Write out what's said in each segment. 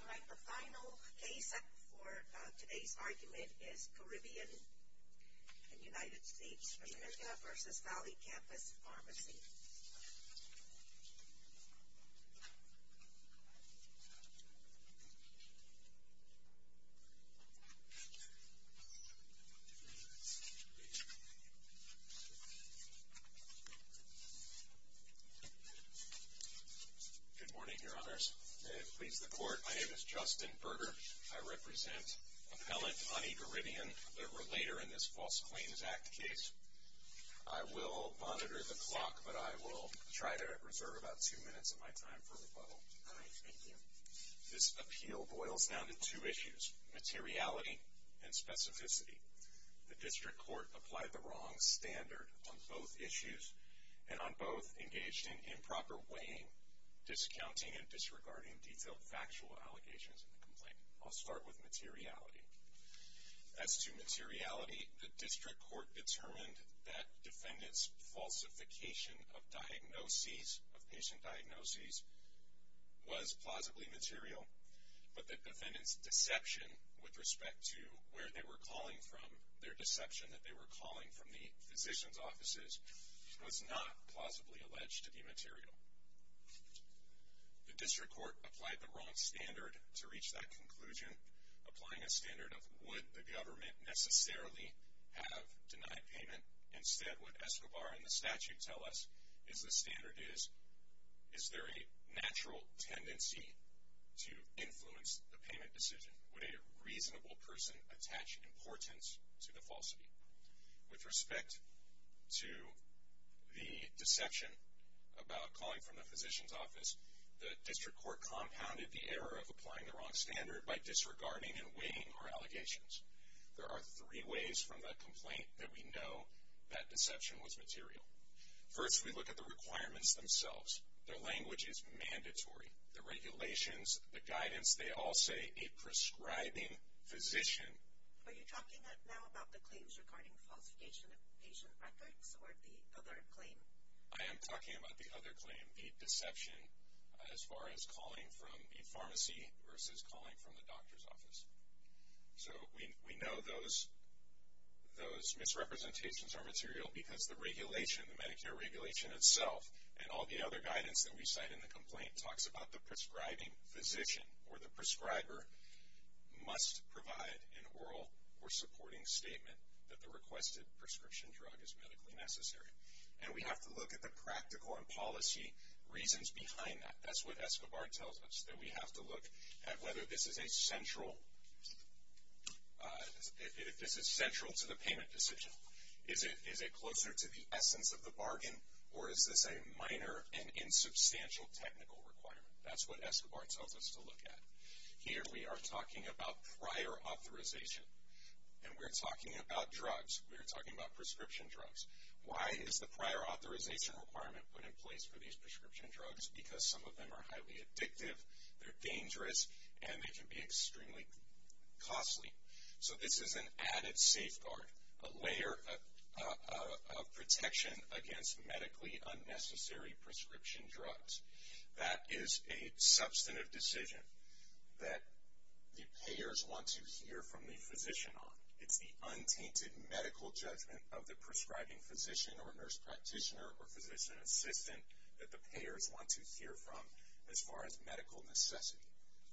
Alright, the final case for today's argument is Caribbean and United States Virginia v. Valley Campus Pharmacy. Good morning, your honors, and please the court, my name is Justin Berger. I represent appellant Ani Gharibian, the relator in this False Claims Act case. I will monitor the clock, but I will try to reserve about two minutes of my time for rebuttal. Alright, thank you. This appeal boils down to two issues, materiality and specificity. The district court applied the wrong standard on both issues and on both engaged in improper weighing, discounting, and disregarding detailed factual allegations in the complaint. I'll start with materiality. As to materiality, the district court determined that defendant's falsification of diagnoses, of patient diagnoses, was plausibly material, but that defendant's deception with respect to where they were calling from, their deception that they were calling from the physician's offices, was not plausibly alleged to be material. The district court applied the wrong standard to reach that conclusion, applying a standard of would the government necessarily have denied payment. Instead, what Escobar and the statute tell us is the standard is, is there a natural tendency to influence the payment decision? Would a reasonable person attach importance to the falsity? With respect to the deception about calling from the physician's office, the district court compounded the error of applying the wrong standard by disregarding and weighing our allegations. There are three ways from the complaint that we know that deception was material. First, we look at the requirements themselves. Their language is mandatory. The regulations, the guidance, they all say a prescribing physician. Are you talking now about the claims regarding falsification of patient records or the other claim? I am talking about the other claim, the deception as far as calling from a pharmacy versus calling from the doctor's office. So we know those misrepresentations are material because the regulation, the Medicare regulation itself and all the other guidance that we cite in the complaint, talks about the prescribing physician or the prescriber must provide an oral or supporting statement that the requested prescription drug is medically necessary. And we have to look at the practical and policy reasons behind that. That's what Escobar tells us, that we have to look at whether this is central to the payment decision. Is it closer to the essence of the bargain, or is this a minor and insubstantial technical requirement? That's what Escobar tells us to look at. Here we are talking about prior authorization, and we're talking about drugs. We're talking about prescription drugs. Why is the prior authorization requirement put in place for these prescription drugs? Because some of them are highly addictive, they're dangerous, and they can be extremely costly. So this is an added safeguard, a layer of protection against medically unnecessary prescription drugs. That is a substantive decision that the payers want to hear from the physician on. It's the untainted medical judgment of the prescribing physician or nurse practitioner or physician assistant that the payers want to hear from as far as medical necessity,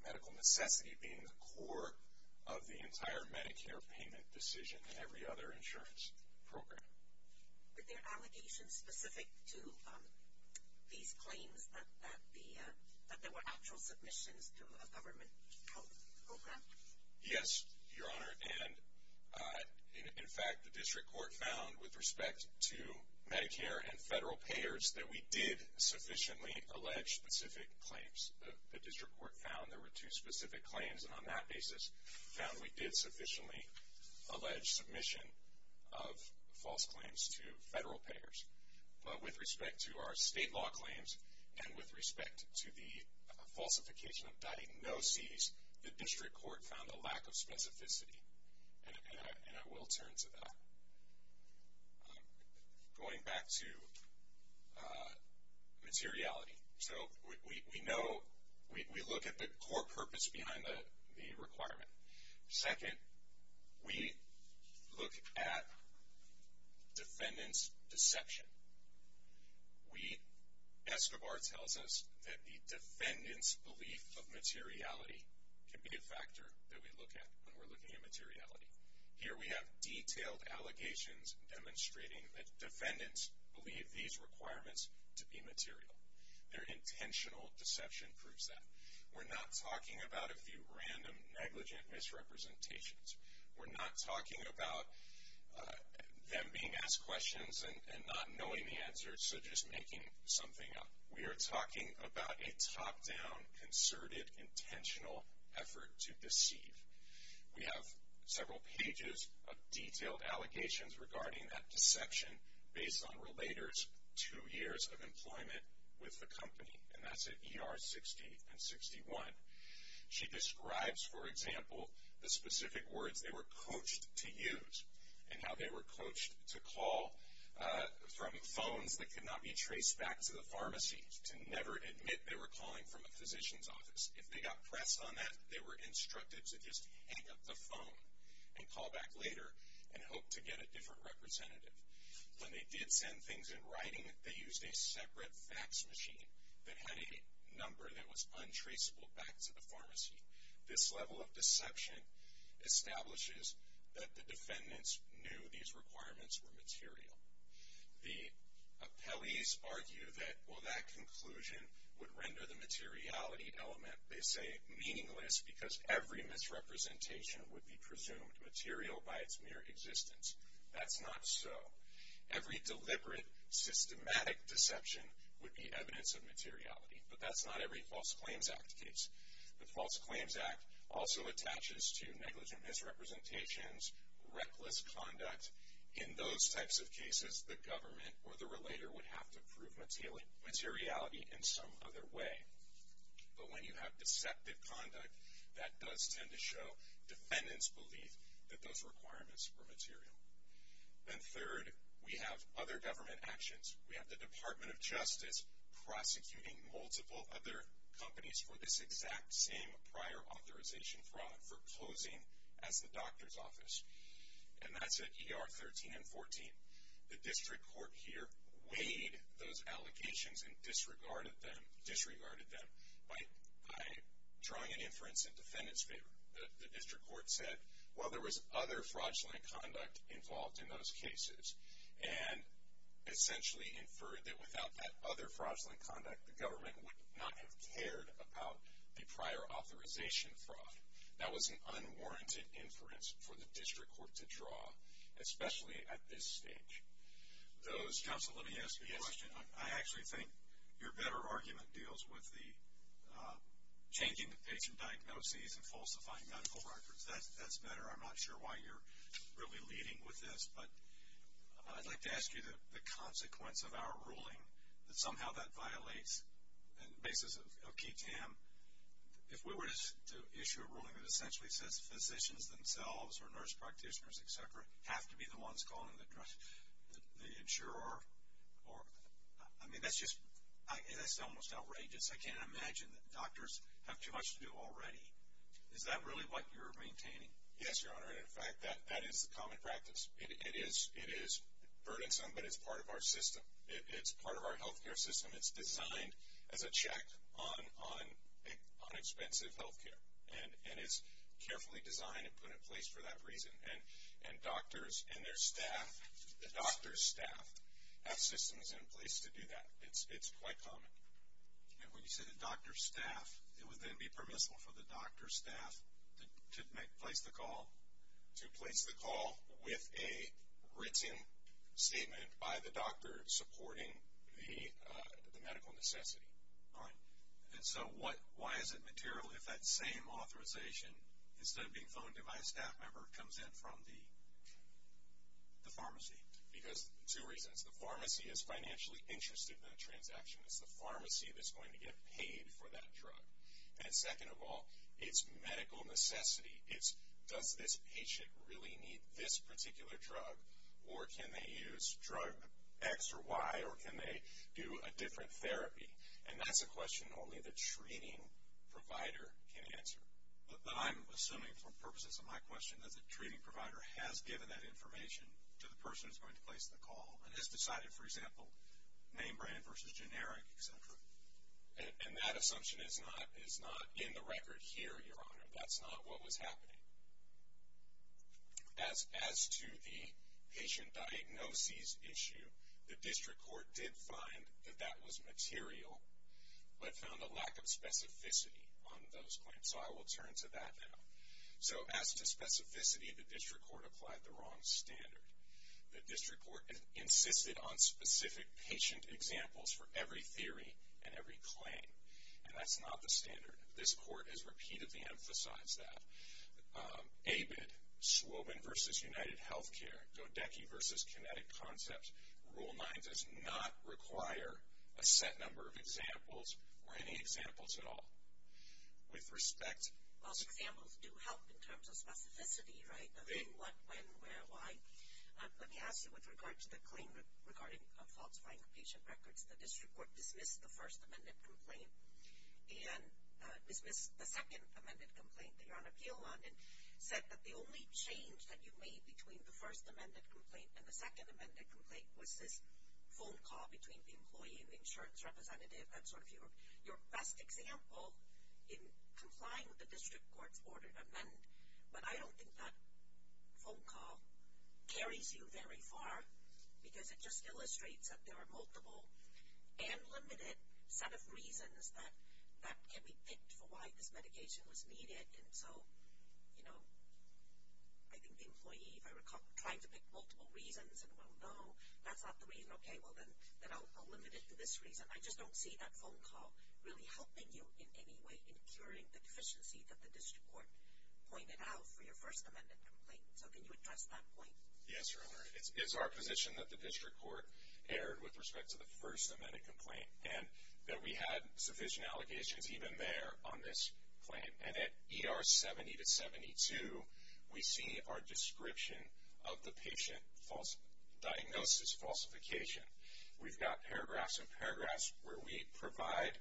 medical necessity being the core of the entire Medicare payment decision and every other insurance program. Are there allegations specific to these claims that there were actual submissions to a government program? Yes, Your Honor. And, in fact, the district court found with respect to Medicare and federal payers that we did sufficiently allege specific claims. The district court found there were two specific claims, and on that basis found we did sufficiently allege submission of false claims to federal payers. But with respect to our state law claims and with respect to the falsification of diagnoses, the district court found a lack of specificity, and I will turn to that. Going back to materiality. So we know, we look at the core purpose behind the requirement. Second, we look at defendant's deception. We, Escobar tells us that the defendant's belief of materiality can be a factor that we look at when we're looking at materiality. Here we have detailed allegations demonstrating that defendants believe these requirements to be material. Their intentional deception proves that. We're not talking about a few random negligent misrepresentations. We're not talking about them being asked questions and not knowing the answers, so just making something up. We are talking about a top-down, concerted, intentional effort to deceive. We have several pages of detailed allegations regarding that deception based on Relator's two years of employment with the company, and that's at ER 60 and 61. She describes, for example, the specific words they were coached to use and how they were coached to call from phones that could not be traced back to the pharmacy, to never admit they were calling from a physician's office. If they got pressed on that, they were instructed to just hang up the phone and call back later and hope to get a different representative. When they did send things in writing, they used a separate fax machine that had a number that was untraceable back to the pharmacy. This level of deception establishes that the defendants knew these requirements were material. The appellees argue that, well, that conclusion would render the materiality element, they say, meaningless because every misrepresentation would be presumed material by its mere existence. That's not so. Every deliberate, systematic deception would be evidence of materiality, but that's not every False Claims Act case. The False Claims Act also attaches to negligent misrepresentations, reckless conduct. In those types of cases, the government or the Relator would have to prove materiality in some other way. But when you have deceptive conduct, that does tend to show defendants' belief that those requirements were material. And third, we have other government actions. We have the Department of Justice prosecuting multiple other companies for this exact same prior authorization fraud, for posing as the doctor's office, and that's at ER 13 and 14. The district court here weighed those allegations and disregarded them by drawing an inference in defendants' favor. The district court said, well, there was other fraudulent conduct involved in those cases, and essentially inferred that without that other fraudulent conduct, the government would not have cared about the prior authorization fraud. That was an unwarranted inference for the district court to draw, especially at this stage. Those counsel, let me ask you a question. I actually think your better argument deals with the changing the patient diagnoses and falsifying medical records. That's better. I'm not sure why you're really leading with this, but I'd like to ask you the consequence of our ruling, that somehow that violates the basis of KTAM. If we were to issue a ruling that essentially says physicians themselves or nurse practitioners, et cetera, have to be the ones calling the insurer, I mean, that's just almost outrageous. I can't imagine that doctors have too much to do already. Is that really what you're maintaining? Yes, Your Honor, and in fact, that is the common practice. It is burdensome, but it's part of our system. It's part of our health care system. It's designed as a check on expensive health care, and it's carefully designed and put in place for that reason. And doctors and their staff, the doctor's staff, have systems in place to do that. It's quite common. And when you say the doctor's staff, it would then be permissible for the doctor's staff to place the call, with a written statement by the doctor supporting the medical necessity, right? And so why is it material if that same authorization, instead of being phoned to my staff member, comes in from the pharmacy? Because two reasons. The pharmacy is financially interested in that transaction. It's the pharmacy that's going to get paid for that drug. And second of all, it's medical necessity. It's does this patient really need this particular drug, or can they use drug X or Y, or can they do a different therapy? And that's a question only the treating provider can answer. But I'm assuming, for purposes of my question, that the treating provider has given that information to the person who's going to place the call, and has decided, for example, name brand versus generic, et cetera. And that assumption is not in the record here, Your Honor. That's not what was happening. As to the patient diagnoses issue, the district court did find that that was material, but found a lack of specificity on those claims. So I will turn to that now. So as to specificity, the district court applied the wrong standard. The district court insisted on specific patient examples for every theory and every claim, and that's not the standard. This court has repeatedly emphasized that. ABID, Swobin v. UnitedHealthcare, Godecky v. Kinetic Concepts, Rule 9 does not require a set number of examples or any examples at all. With respect to- Well, examples do help in terms of specificity, right? When, what, when, where, why. Let me ask you, with regard to the claim regarding falsifying the patient records, the district court dismissed the First Amendment complaint, and dismissed the Second Amendment complaint that you're on appeal on, and said that the only change that you made between the First Amendment complaint and the Second Amendment complaint was this phone call between the employee and the insurance representative. That's sort of your best example in complying with the district court's order to amend, but I don't think that phone call carries you very far, because it just illustrates that there are multiple and limited set of reasons that can be picked for why this medication was needed. And so, you know, I think the employee, if I recall, tried to pick multiple reasons, and, well, no, that's not the reason. Okay, well, then I'll limit it to this reason. I just don't see that phone call really helping you in any way in curing the deficiency that the district court pointed out for your First Amendment complaint. So can you address that point? Yes, Your Honor. It's our position that the district court erred with respect to the First Amendment complaint, and that we had sufficient allegations even there on this claim. And at ER 70-72, we see our description of the patient's diagnosis falsification. We've got paragraphs and paragraphs where we provide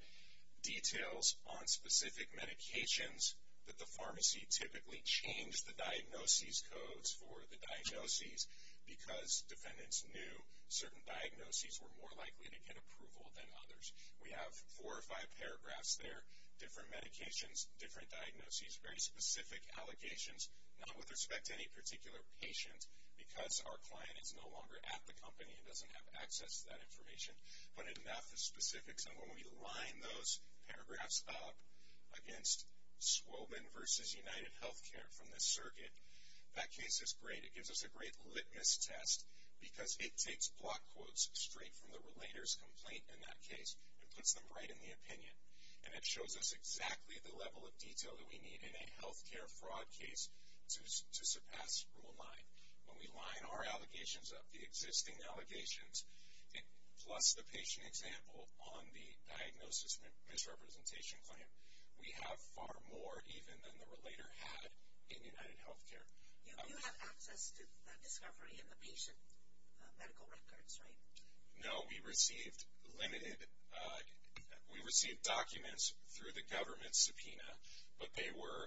details on specific medications that the pharmacy typically changed the diagnoses codes for the diagnoses because defendants knew certain diagnoses were more likely to get approval than others. We have four or five paragraphs there, different medications, different diagnoses, very specific allegations, not with respect to any particular patient, because our client is no longer at the company and doesn't have access to that information, but enough of specifics. And when we line those paragraphs up against Swobin v. UnitedHealthcare from this circuit, that case is great. It gives us a great litmus test because it takes block quotes straight from the relator's complaint in that case and puts them right in the opinion. And it shows us exactly the level of detail that we need in a health care fraud case to surpass Rule 9. When we line our allegations up, the existing allegations, plus the patient example on the diagnosis misrepresentation claim, we have far more even than the relator had in UnitedHealthcare. You have access to that discovery in the patient medical records, right? No, we received limited, we received documents through the government subpoena, but they were,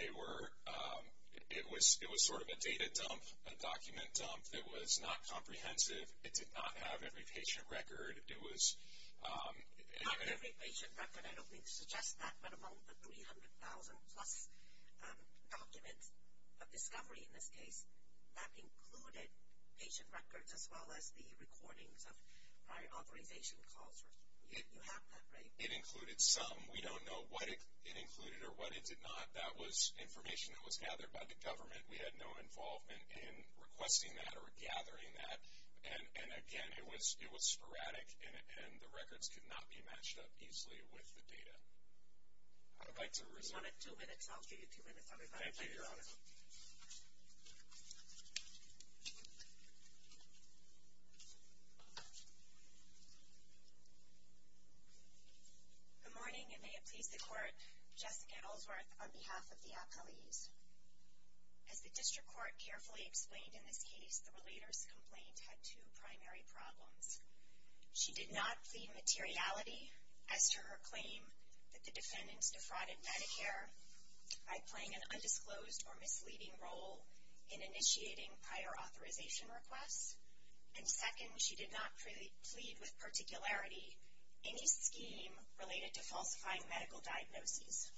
it was sort of a data dump, a document dump. It was not comprehensive. It did not have every patient record. Not every patient record, I don't mean to suggest that, but among the 300,000 plus documents of discovery in this case, that included patient records as well as the recordings of prior authorization calls. You have that, right? It included some. We don't know what it included or what it did not. That was information that was gathered by the government. We had no involvement in requesting that or gathering that. And, again, it was sporadic, and the records could not be matched up easily with the data. I'd like to resume. You have two minutes. I'll give you two minutes, everybody. Thank you, Your Honor. Thank you. Good morning, and may it please the Court, Jessica Ellsworth on behalf of the appellees. As the district court carefully explained in this case, the relator's complaint had two primary problems. She did not plead materiality as to her claim that the defendants defrauded Medicare by playing an undisclosed or misleading role in initiating prior authorization requests. And, second, she did not plead with particularity any scheme related to falsifying medical diagnoses.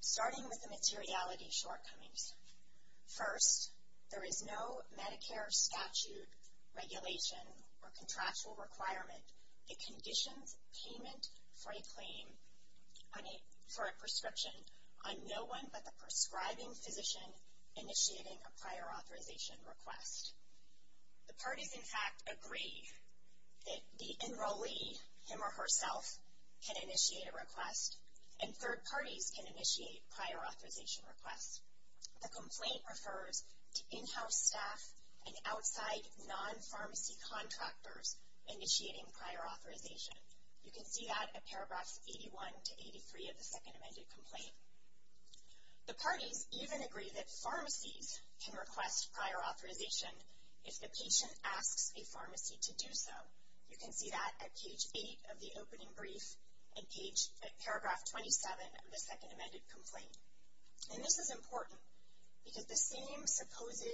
Starting with the materiality shortcomings. First, there is no Medicare statute, regulation, or contractual requirement that conditions payment for a claim for a prescription on no one but the prescribing physician initiating a prior authorization request. The parties, in fact, agree that the enrollee, him or herself, can initiate a request, and third parties can initiate prior authorization requests. The complaint refers to in-house staff and outside non-pharmacy contractors initiating prior authorization. You can see that in paragraphs 81 to 83 of the second amended complaint. The parties even agree that pharmacies can request prior authorization if the patient asks a pharmacy to do so. You can see that at page 8 of the opening brief and at paragraph 27 of the second amended complaint. And this is important because the same supposed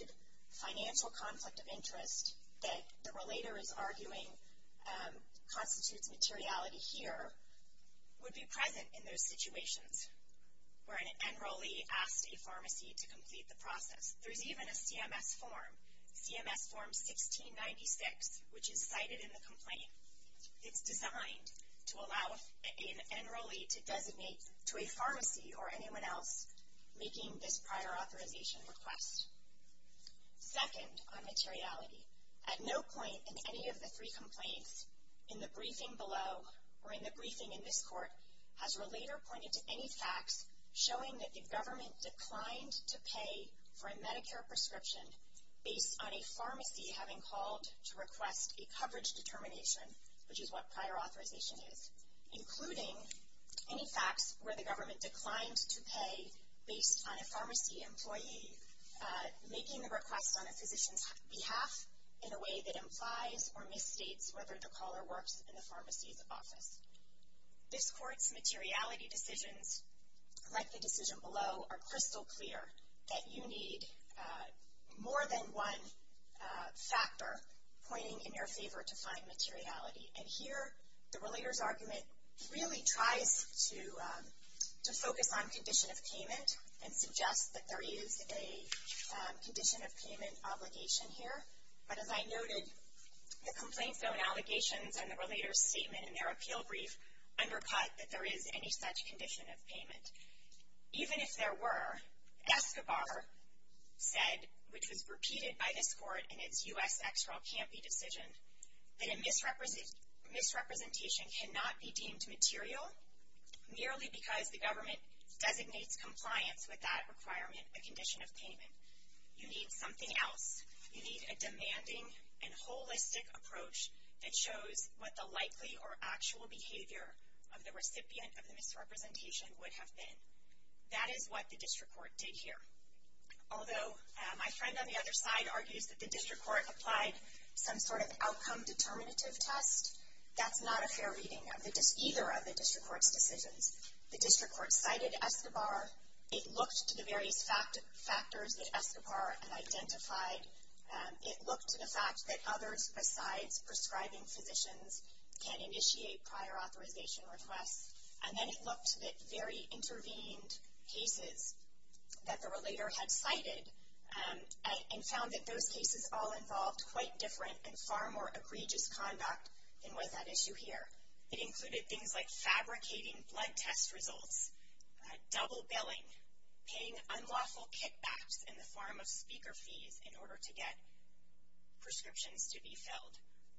financial conflict of interest that the relator is arguing constitutes materiality here would be present in those situations where an enrollee asked a pharmacy to complete the process. There's even a CMS form, CMS form 1696, which is cited in the complaint. It's designed to allow an enrollee to designate to a pharmacy or anyone else making this prior authorization request. Second, on materiality. At no point in any of the three complaints in the briefing below or in the briefing in this court has a relator pointed to any facts showing that the government declined to pay for a Medicare prescription based on a pharmacy having called to request a coverage determination, which is what prior authorization is, including any facts where the government declined to pay based on a pharmacy employee making the request on a physician's behalf in a way that implies or misstates whether the caller works in the pharmacy's office. This court's materiality decisions, like the decision below, are crystal clear that you need more than one factor pointing in your favor to find materiality. And here the relator's argument really tries to focus on condition of payment and suggests that there is a condition of payment obligation here. But as I noted, the complaint's own allegations and the relator's statement in their appeal brief undercut that there is any such condition of payment. Even if there were, Escobar said, which was repeated by this court in its U.S. Extral Campy decision, that a misrepresentation cannot be deemed material merely because the government designates compliance with that requirement, a condition of payment. You need something else. You need a demanding and holistic approach that shows what the likely or actual behavior of the recipient of the misrepresentation would have been. That is what the district court did here. Although my friend on the other side argues that the district court applied some sort of outcome determinative test, that's not a fair reading of either of the district court's decisions. The district court cited Escobar. It looked to the various factors that Escobar had identified. It looked to the fact that others besides prescribing physicians can initiate prior authorization requests. And then it looked at very intervened cases that the relator had cited and found that those cases all involved quite different and far more egregious conduct than was at issue here. It included things like fabricating blood test results, double billing, paying unlawful kickbacks in the form of speaker fees in order to get prescriptions to be filled,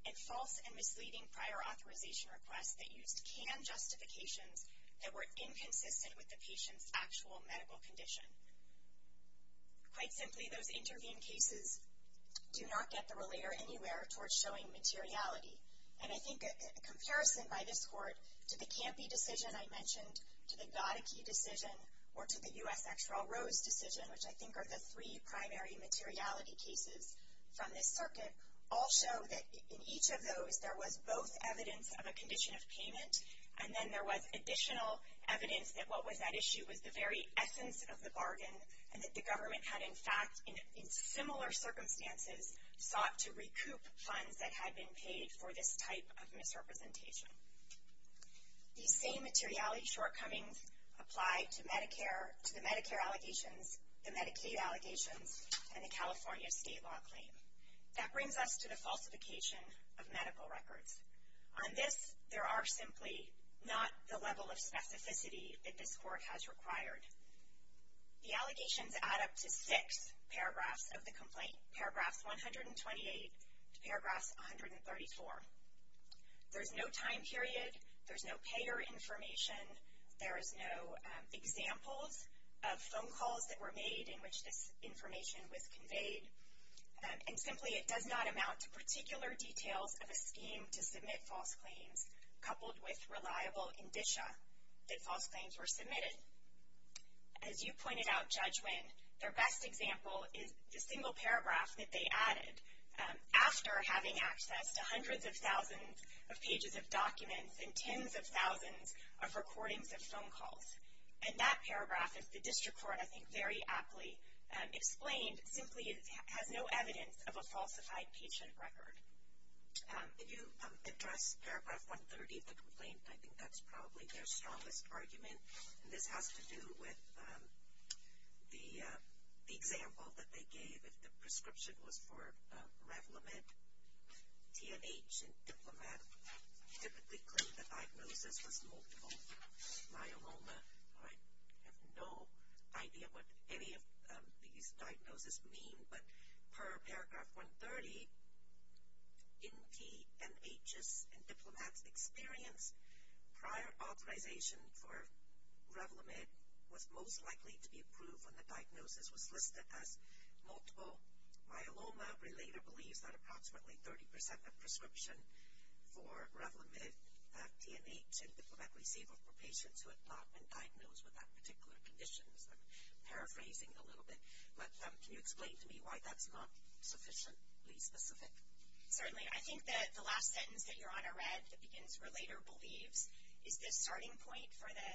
and false and misleading prior authorization requests that used canned justifications that were inconsistent with the patient's actual medical condition. Quite simply, those intervened cases do not get the relator anywhere towards showing materiality. And I think a comparison by this court to the Campy decision I mentioned, to the Gattachee decision, or to the U.S. Actual Rose decision, which I think are the three primary materiality cases from this circuit, all show that in each of those there was both evidence of a condition of payment, and then there was additional evidence that what was at issue was the very essence of the bargain, and that the government had, in fact, in similar circumstances, sought to recoup funds that had been paid for this type of misrepresentation. These same materiality shortcomings apply to the Medicare allegations, the Medicaid allegations, and the California state law claim. That brings us to the falsification of medical records. On this, there are simply not the level of specificity that this court has required. The allegations add up to six paragraphs of the complaint, paragraphs 128 to paragraphs 134. There's no time period. There's no payer information. There is no examples of phone calls that were made in which this information was conveyed. And simply, it does not amount to particular details of a scheme to submit false claims, coupled with reliable indicia that false claims were submitted. As you pointed out, Judge Winn, their best example is the single paragraph that they added, after having access to hundreds of thousands of pages of documents and tens of thousands of recordings of phone calls. And that paragraph, as the district court, I think, very aptly explained, simply has no evidence of a falsified patient record. Can you address paragraph 130 of the complaint? I think that's probably their strongest argument. And this has to do with the example that they gave. If the prescription was for Revlimid, TNH, and Diplomat, I typically claim the diagnosis was multiple myeloma. I have no idea what any of these diagnoses mean. But per paragraph 130, in TNH's and Diplomat's experience, prior authorization for Revlimid was most likely to be approved when the diagnosis was listed as multiple myeloma. Relator believes that approximately 30% of prescription for Revlimid, TNH, and Diplomat received it were patients who had not been diagnosed with that particular condition. I'm paraphrasing a little bit. But can you explain to me why that's not sufficiently specific? Certainly. I think that the last sentence that Your Honor read that begins, Relator believes, is the starting point for the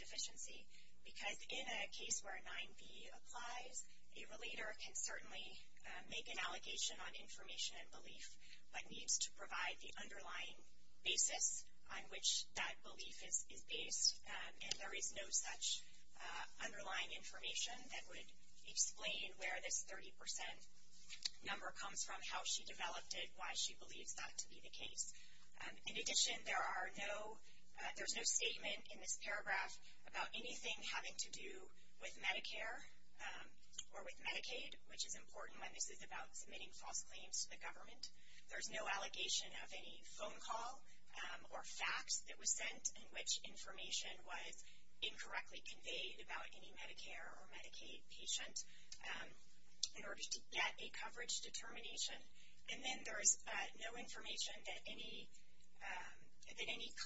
deficiency. Because in a case where a 9B applies, a relator can certainly make an allegation on information and belief, but needs to provide the underlying basis on which that belief is based. And there is no such underlying information that would explain where this 30% number comes from, how she developed it, why she believes that to be the case. In addition, there's no statement in this paragraph about anything having to do with Medicare or with Medicaid, which is important when this is about submitting false claims to the government. There's no allegation of any phone call or fax that was sent in which information was incorrectly conveyed about any Medicare or Medicaid patient in order to get a coverage determination. And then there's no information that any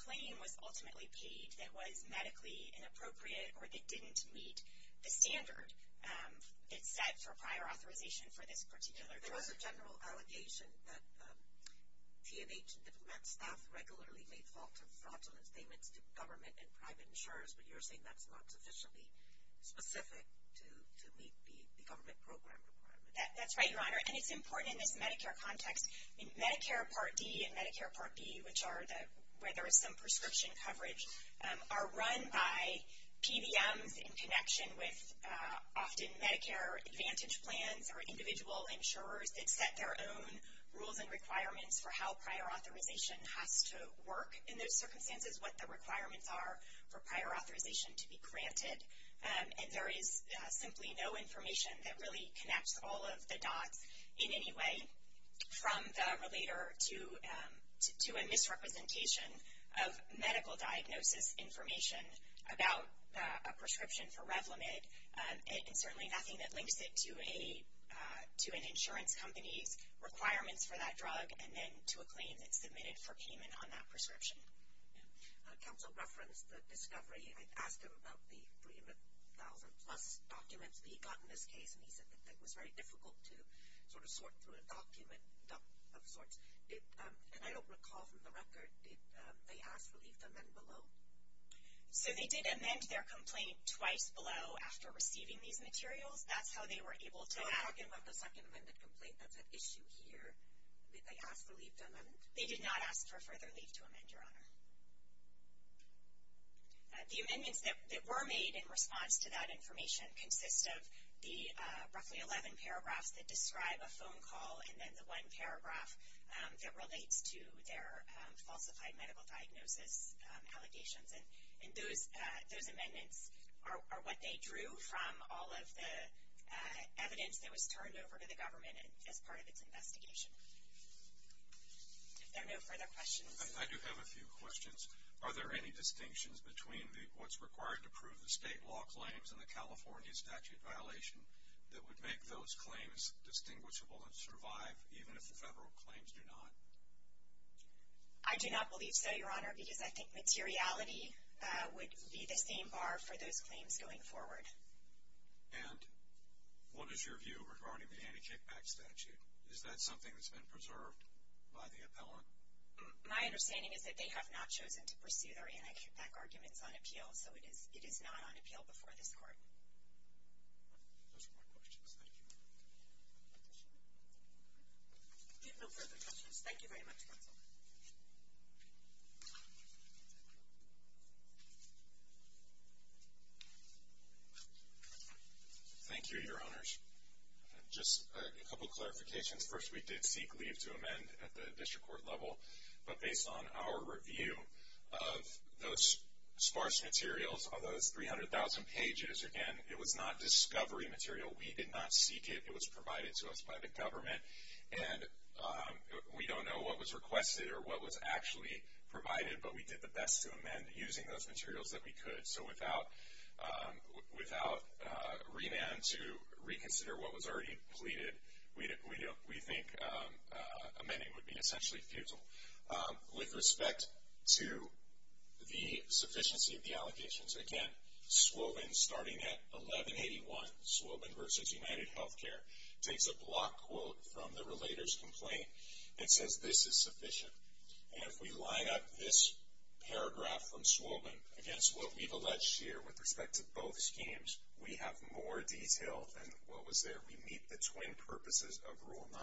claim was ultimately paid that was medically inappropriate or that didn't meet the standard that's set for prior authorization for this particular drug. There was a general allegation that T&H and diplomat staff regularly made false or fraudulent statements to government and private insurers, but you're saying that's not sufficiently specific to meet the government program requirement. That's right, Your Honor. And it's important in this Medicare context. In Medicare Part D and Medicare Part B, which are where there is some prescription coverage, are run by PBMs in connection with often Medicare Advantage plans or individual insurers that set their own rules and requirements for how prior authorization has to work in those circumstances, what the requirements are for prior authorization to be granted. And there is simply no information that really connects all of the dots in any way from the relator to a misrepresentation of medical diagnosis information about a prescription for Revlimid, and certainly nothing that links it to an insurance company's requirements for that drug and then to a claim that's submitted for payment on that prescription. Counsel referenced the discovery. I asked him about the 300,000-plus documents that he got in this case, and he said that it was very difficult to sort through a document of sorts. And I don't recall from the record, did they ask for leave to amend below? So they did amend their complaint twice below after receiving these materials. That's how they were able to add them. You're talking about the second amended complaint that's at issue here. Did they ask for leave to amend? They did not ask for further leave to amend, Your Honor. The amendments that were made in response to that information consist of the roughly 11 paragraphs that describe a phone call and then the one paragraph that relates to their falsified medical diagnosis allegations. And those amendments are what they drew from all of the evidence that was turned over to the government as part of its investigation. If there are no further questions. I do have a few questions. Are there any distinctions between what's required to prove the state law claims and the California statute violation that would make those claims distinguishable and survive even if the federal claims do not? I do not believe so, Your Honor, because I think materiality would be the same bar for those claims going forward. And what is your view regarding the anti-kickback statute? Is that something that's been preserved by the appellant? My understanding is that they have not chosen to pursue their anti-kickback arguments on appeal, so it is not on appeal before this court. Those are my questions. Thank you. If you have no further questions, thank you very much, counsel. Thank you, Your Honors. Just a couple of clarifications. First, we did seek leave to amend at the district court level, but based on our review of those sparse materials, all those 300,000 pages, again, it was not discovery material. We did not seek it. It was provided to us by the government. And we don't know what was requested or what was actually provided, but we did the best to amend using those materials that we could. So without remand to reconsider what was already pleaded, we think amending would be essentially futile. With respect to the sufficiency of the allegations, again, Swobin starting at 1181, Swobin v. UnitedHealthcare, takes a block quote from the relator's complaint and says this is sufficient. And if we line up this paragraph from Swobin against what we've alleged here with respect to both schemes, we have more detail than what was there. We meet the twin purposes of Rule 9,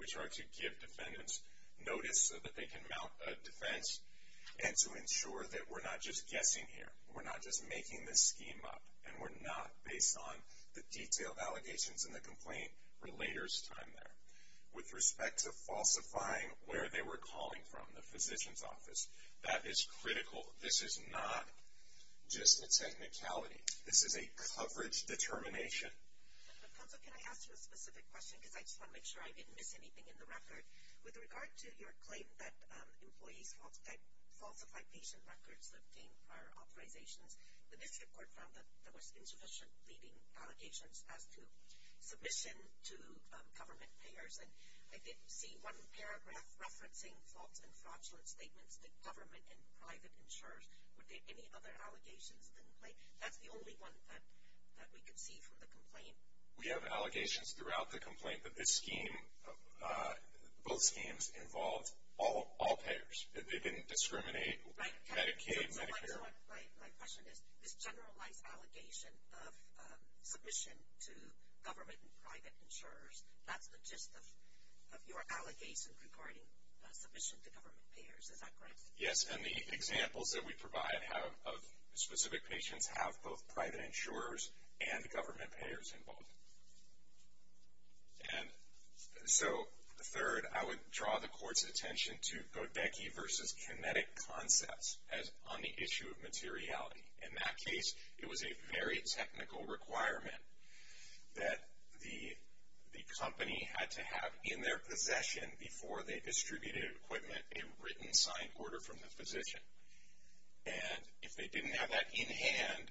which are to give defendants notice so that they can mount a defense and to ensure that we're not just guessing here, we're not just making this scheme up, and we're not based on the detailed allegations in the complaint relator's time there. With respect to falsifying where they were calling from, the physician's office, that is critical. This is not just a technicality. This is a coverage determination. Counsel, can I ask you a specific question? Because I just want to make sure I didn't miss anything in the record. With regard to your claim that employees falsify patient records that obtain prior authorizations, the district court found that there was insufficient pleading allegations as to submission to government payers. And I did see one paragraph referencing false and fraudulent statements that government and private insurers would make any other allegations in the complaint. That's the only one that we could see from the complaint. We have allegations throughout the complaint that this scheme, both schemes, involved all payers. They didn't discriminate Medicaid, Medicare. My question is, this generalized allegation of submission to government and private insurers, that's the gist of your allegation regarding submission to government payers. Is that correct? Yes, and the examples that we provide of specific patients have both private insurers and government payers involved. And so, third, I would draw the court's attention to Bodecki versus Kinetic concepts on the issue of materiality. In that case, it was a very technical requirement that the company had to have in their possession, before they distributed equipment, a written signed order from the physician. And if they didn't have that in hand,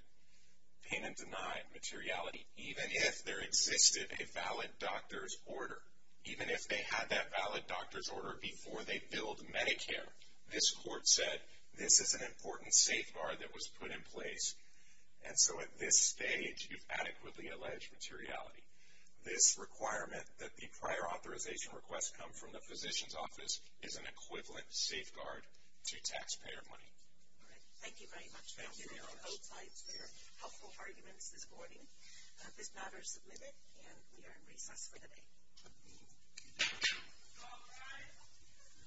payment denied materiality, even if there existed a valid doctor's order, even if they had that valid doctor's order before they billed Medicare. This court said, this is an important safeguard that was put in place. And so, at this stage, you've adequately alleged materiality. This requirement, that the prior authorization requests come from the physician's office, is an equivalent safeguard to taxpayer money. All right. Thank you very much. Thank you. Both sides had helpful arguments this morning. This matter is submitted, and we are in recess for the day. Thank you. All rise.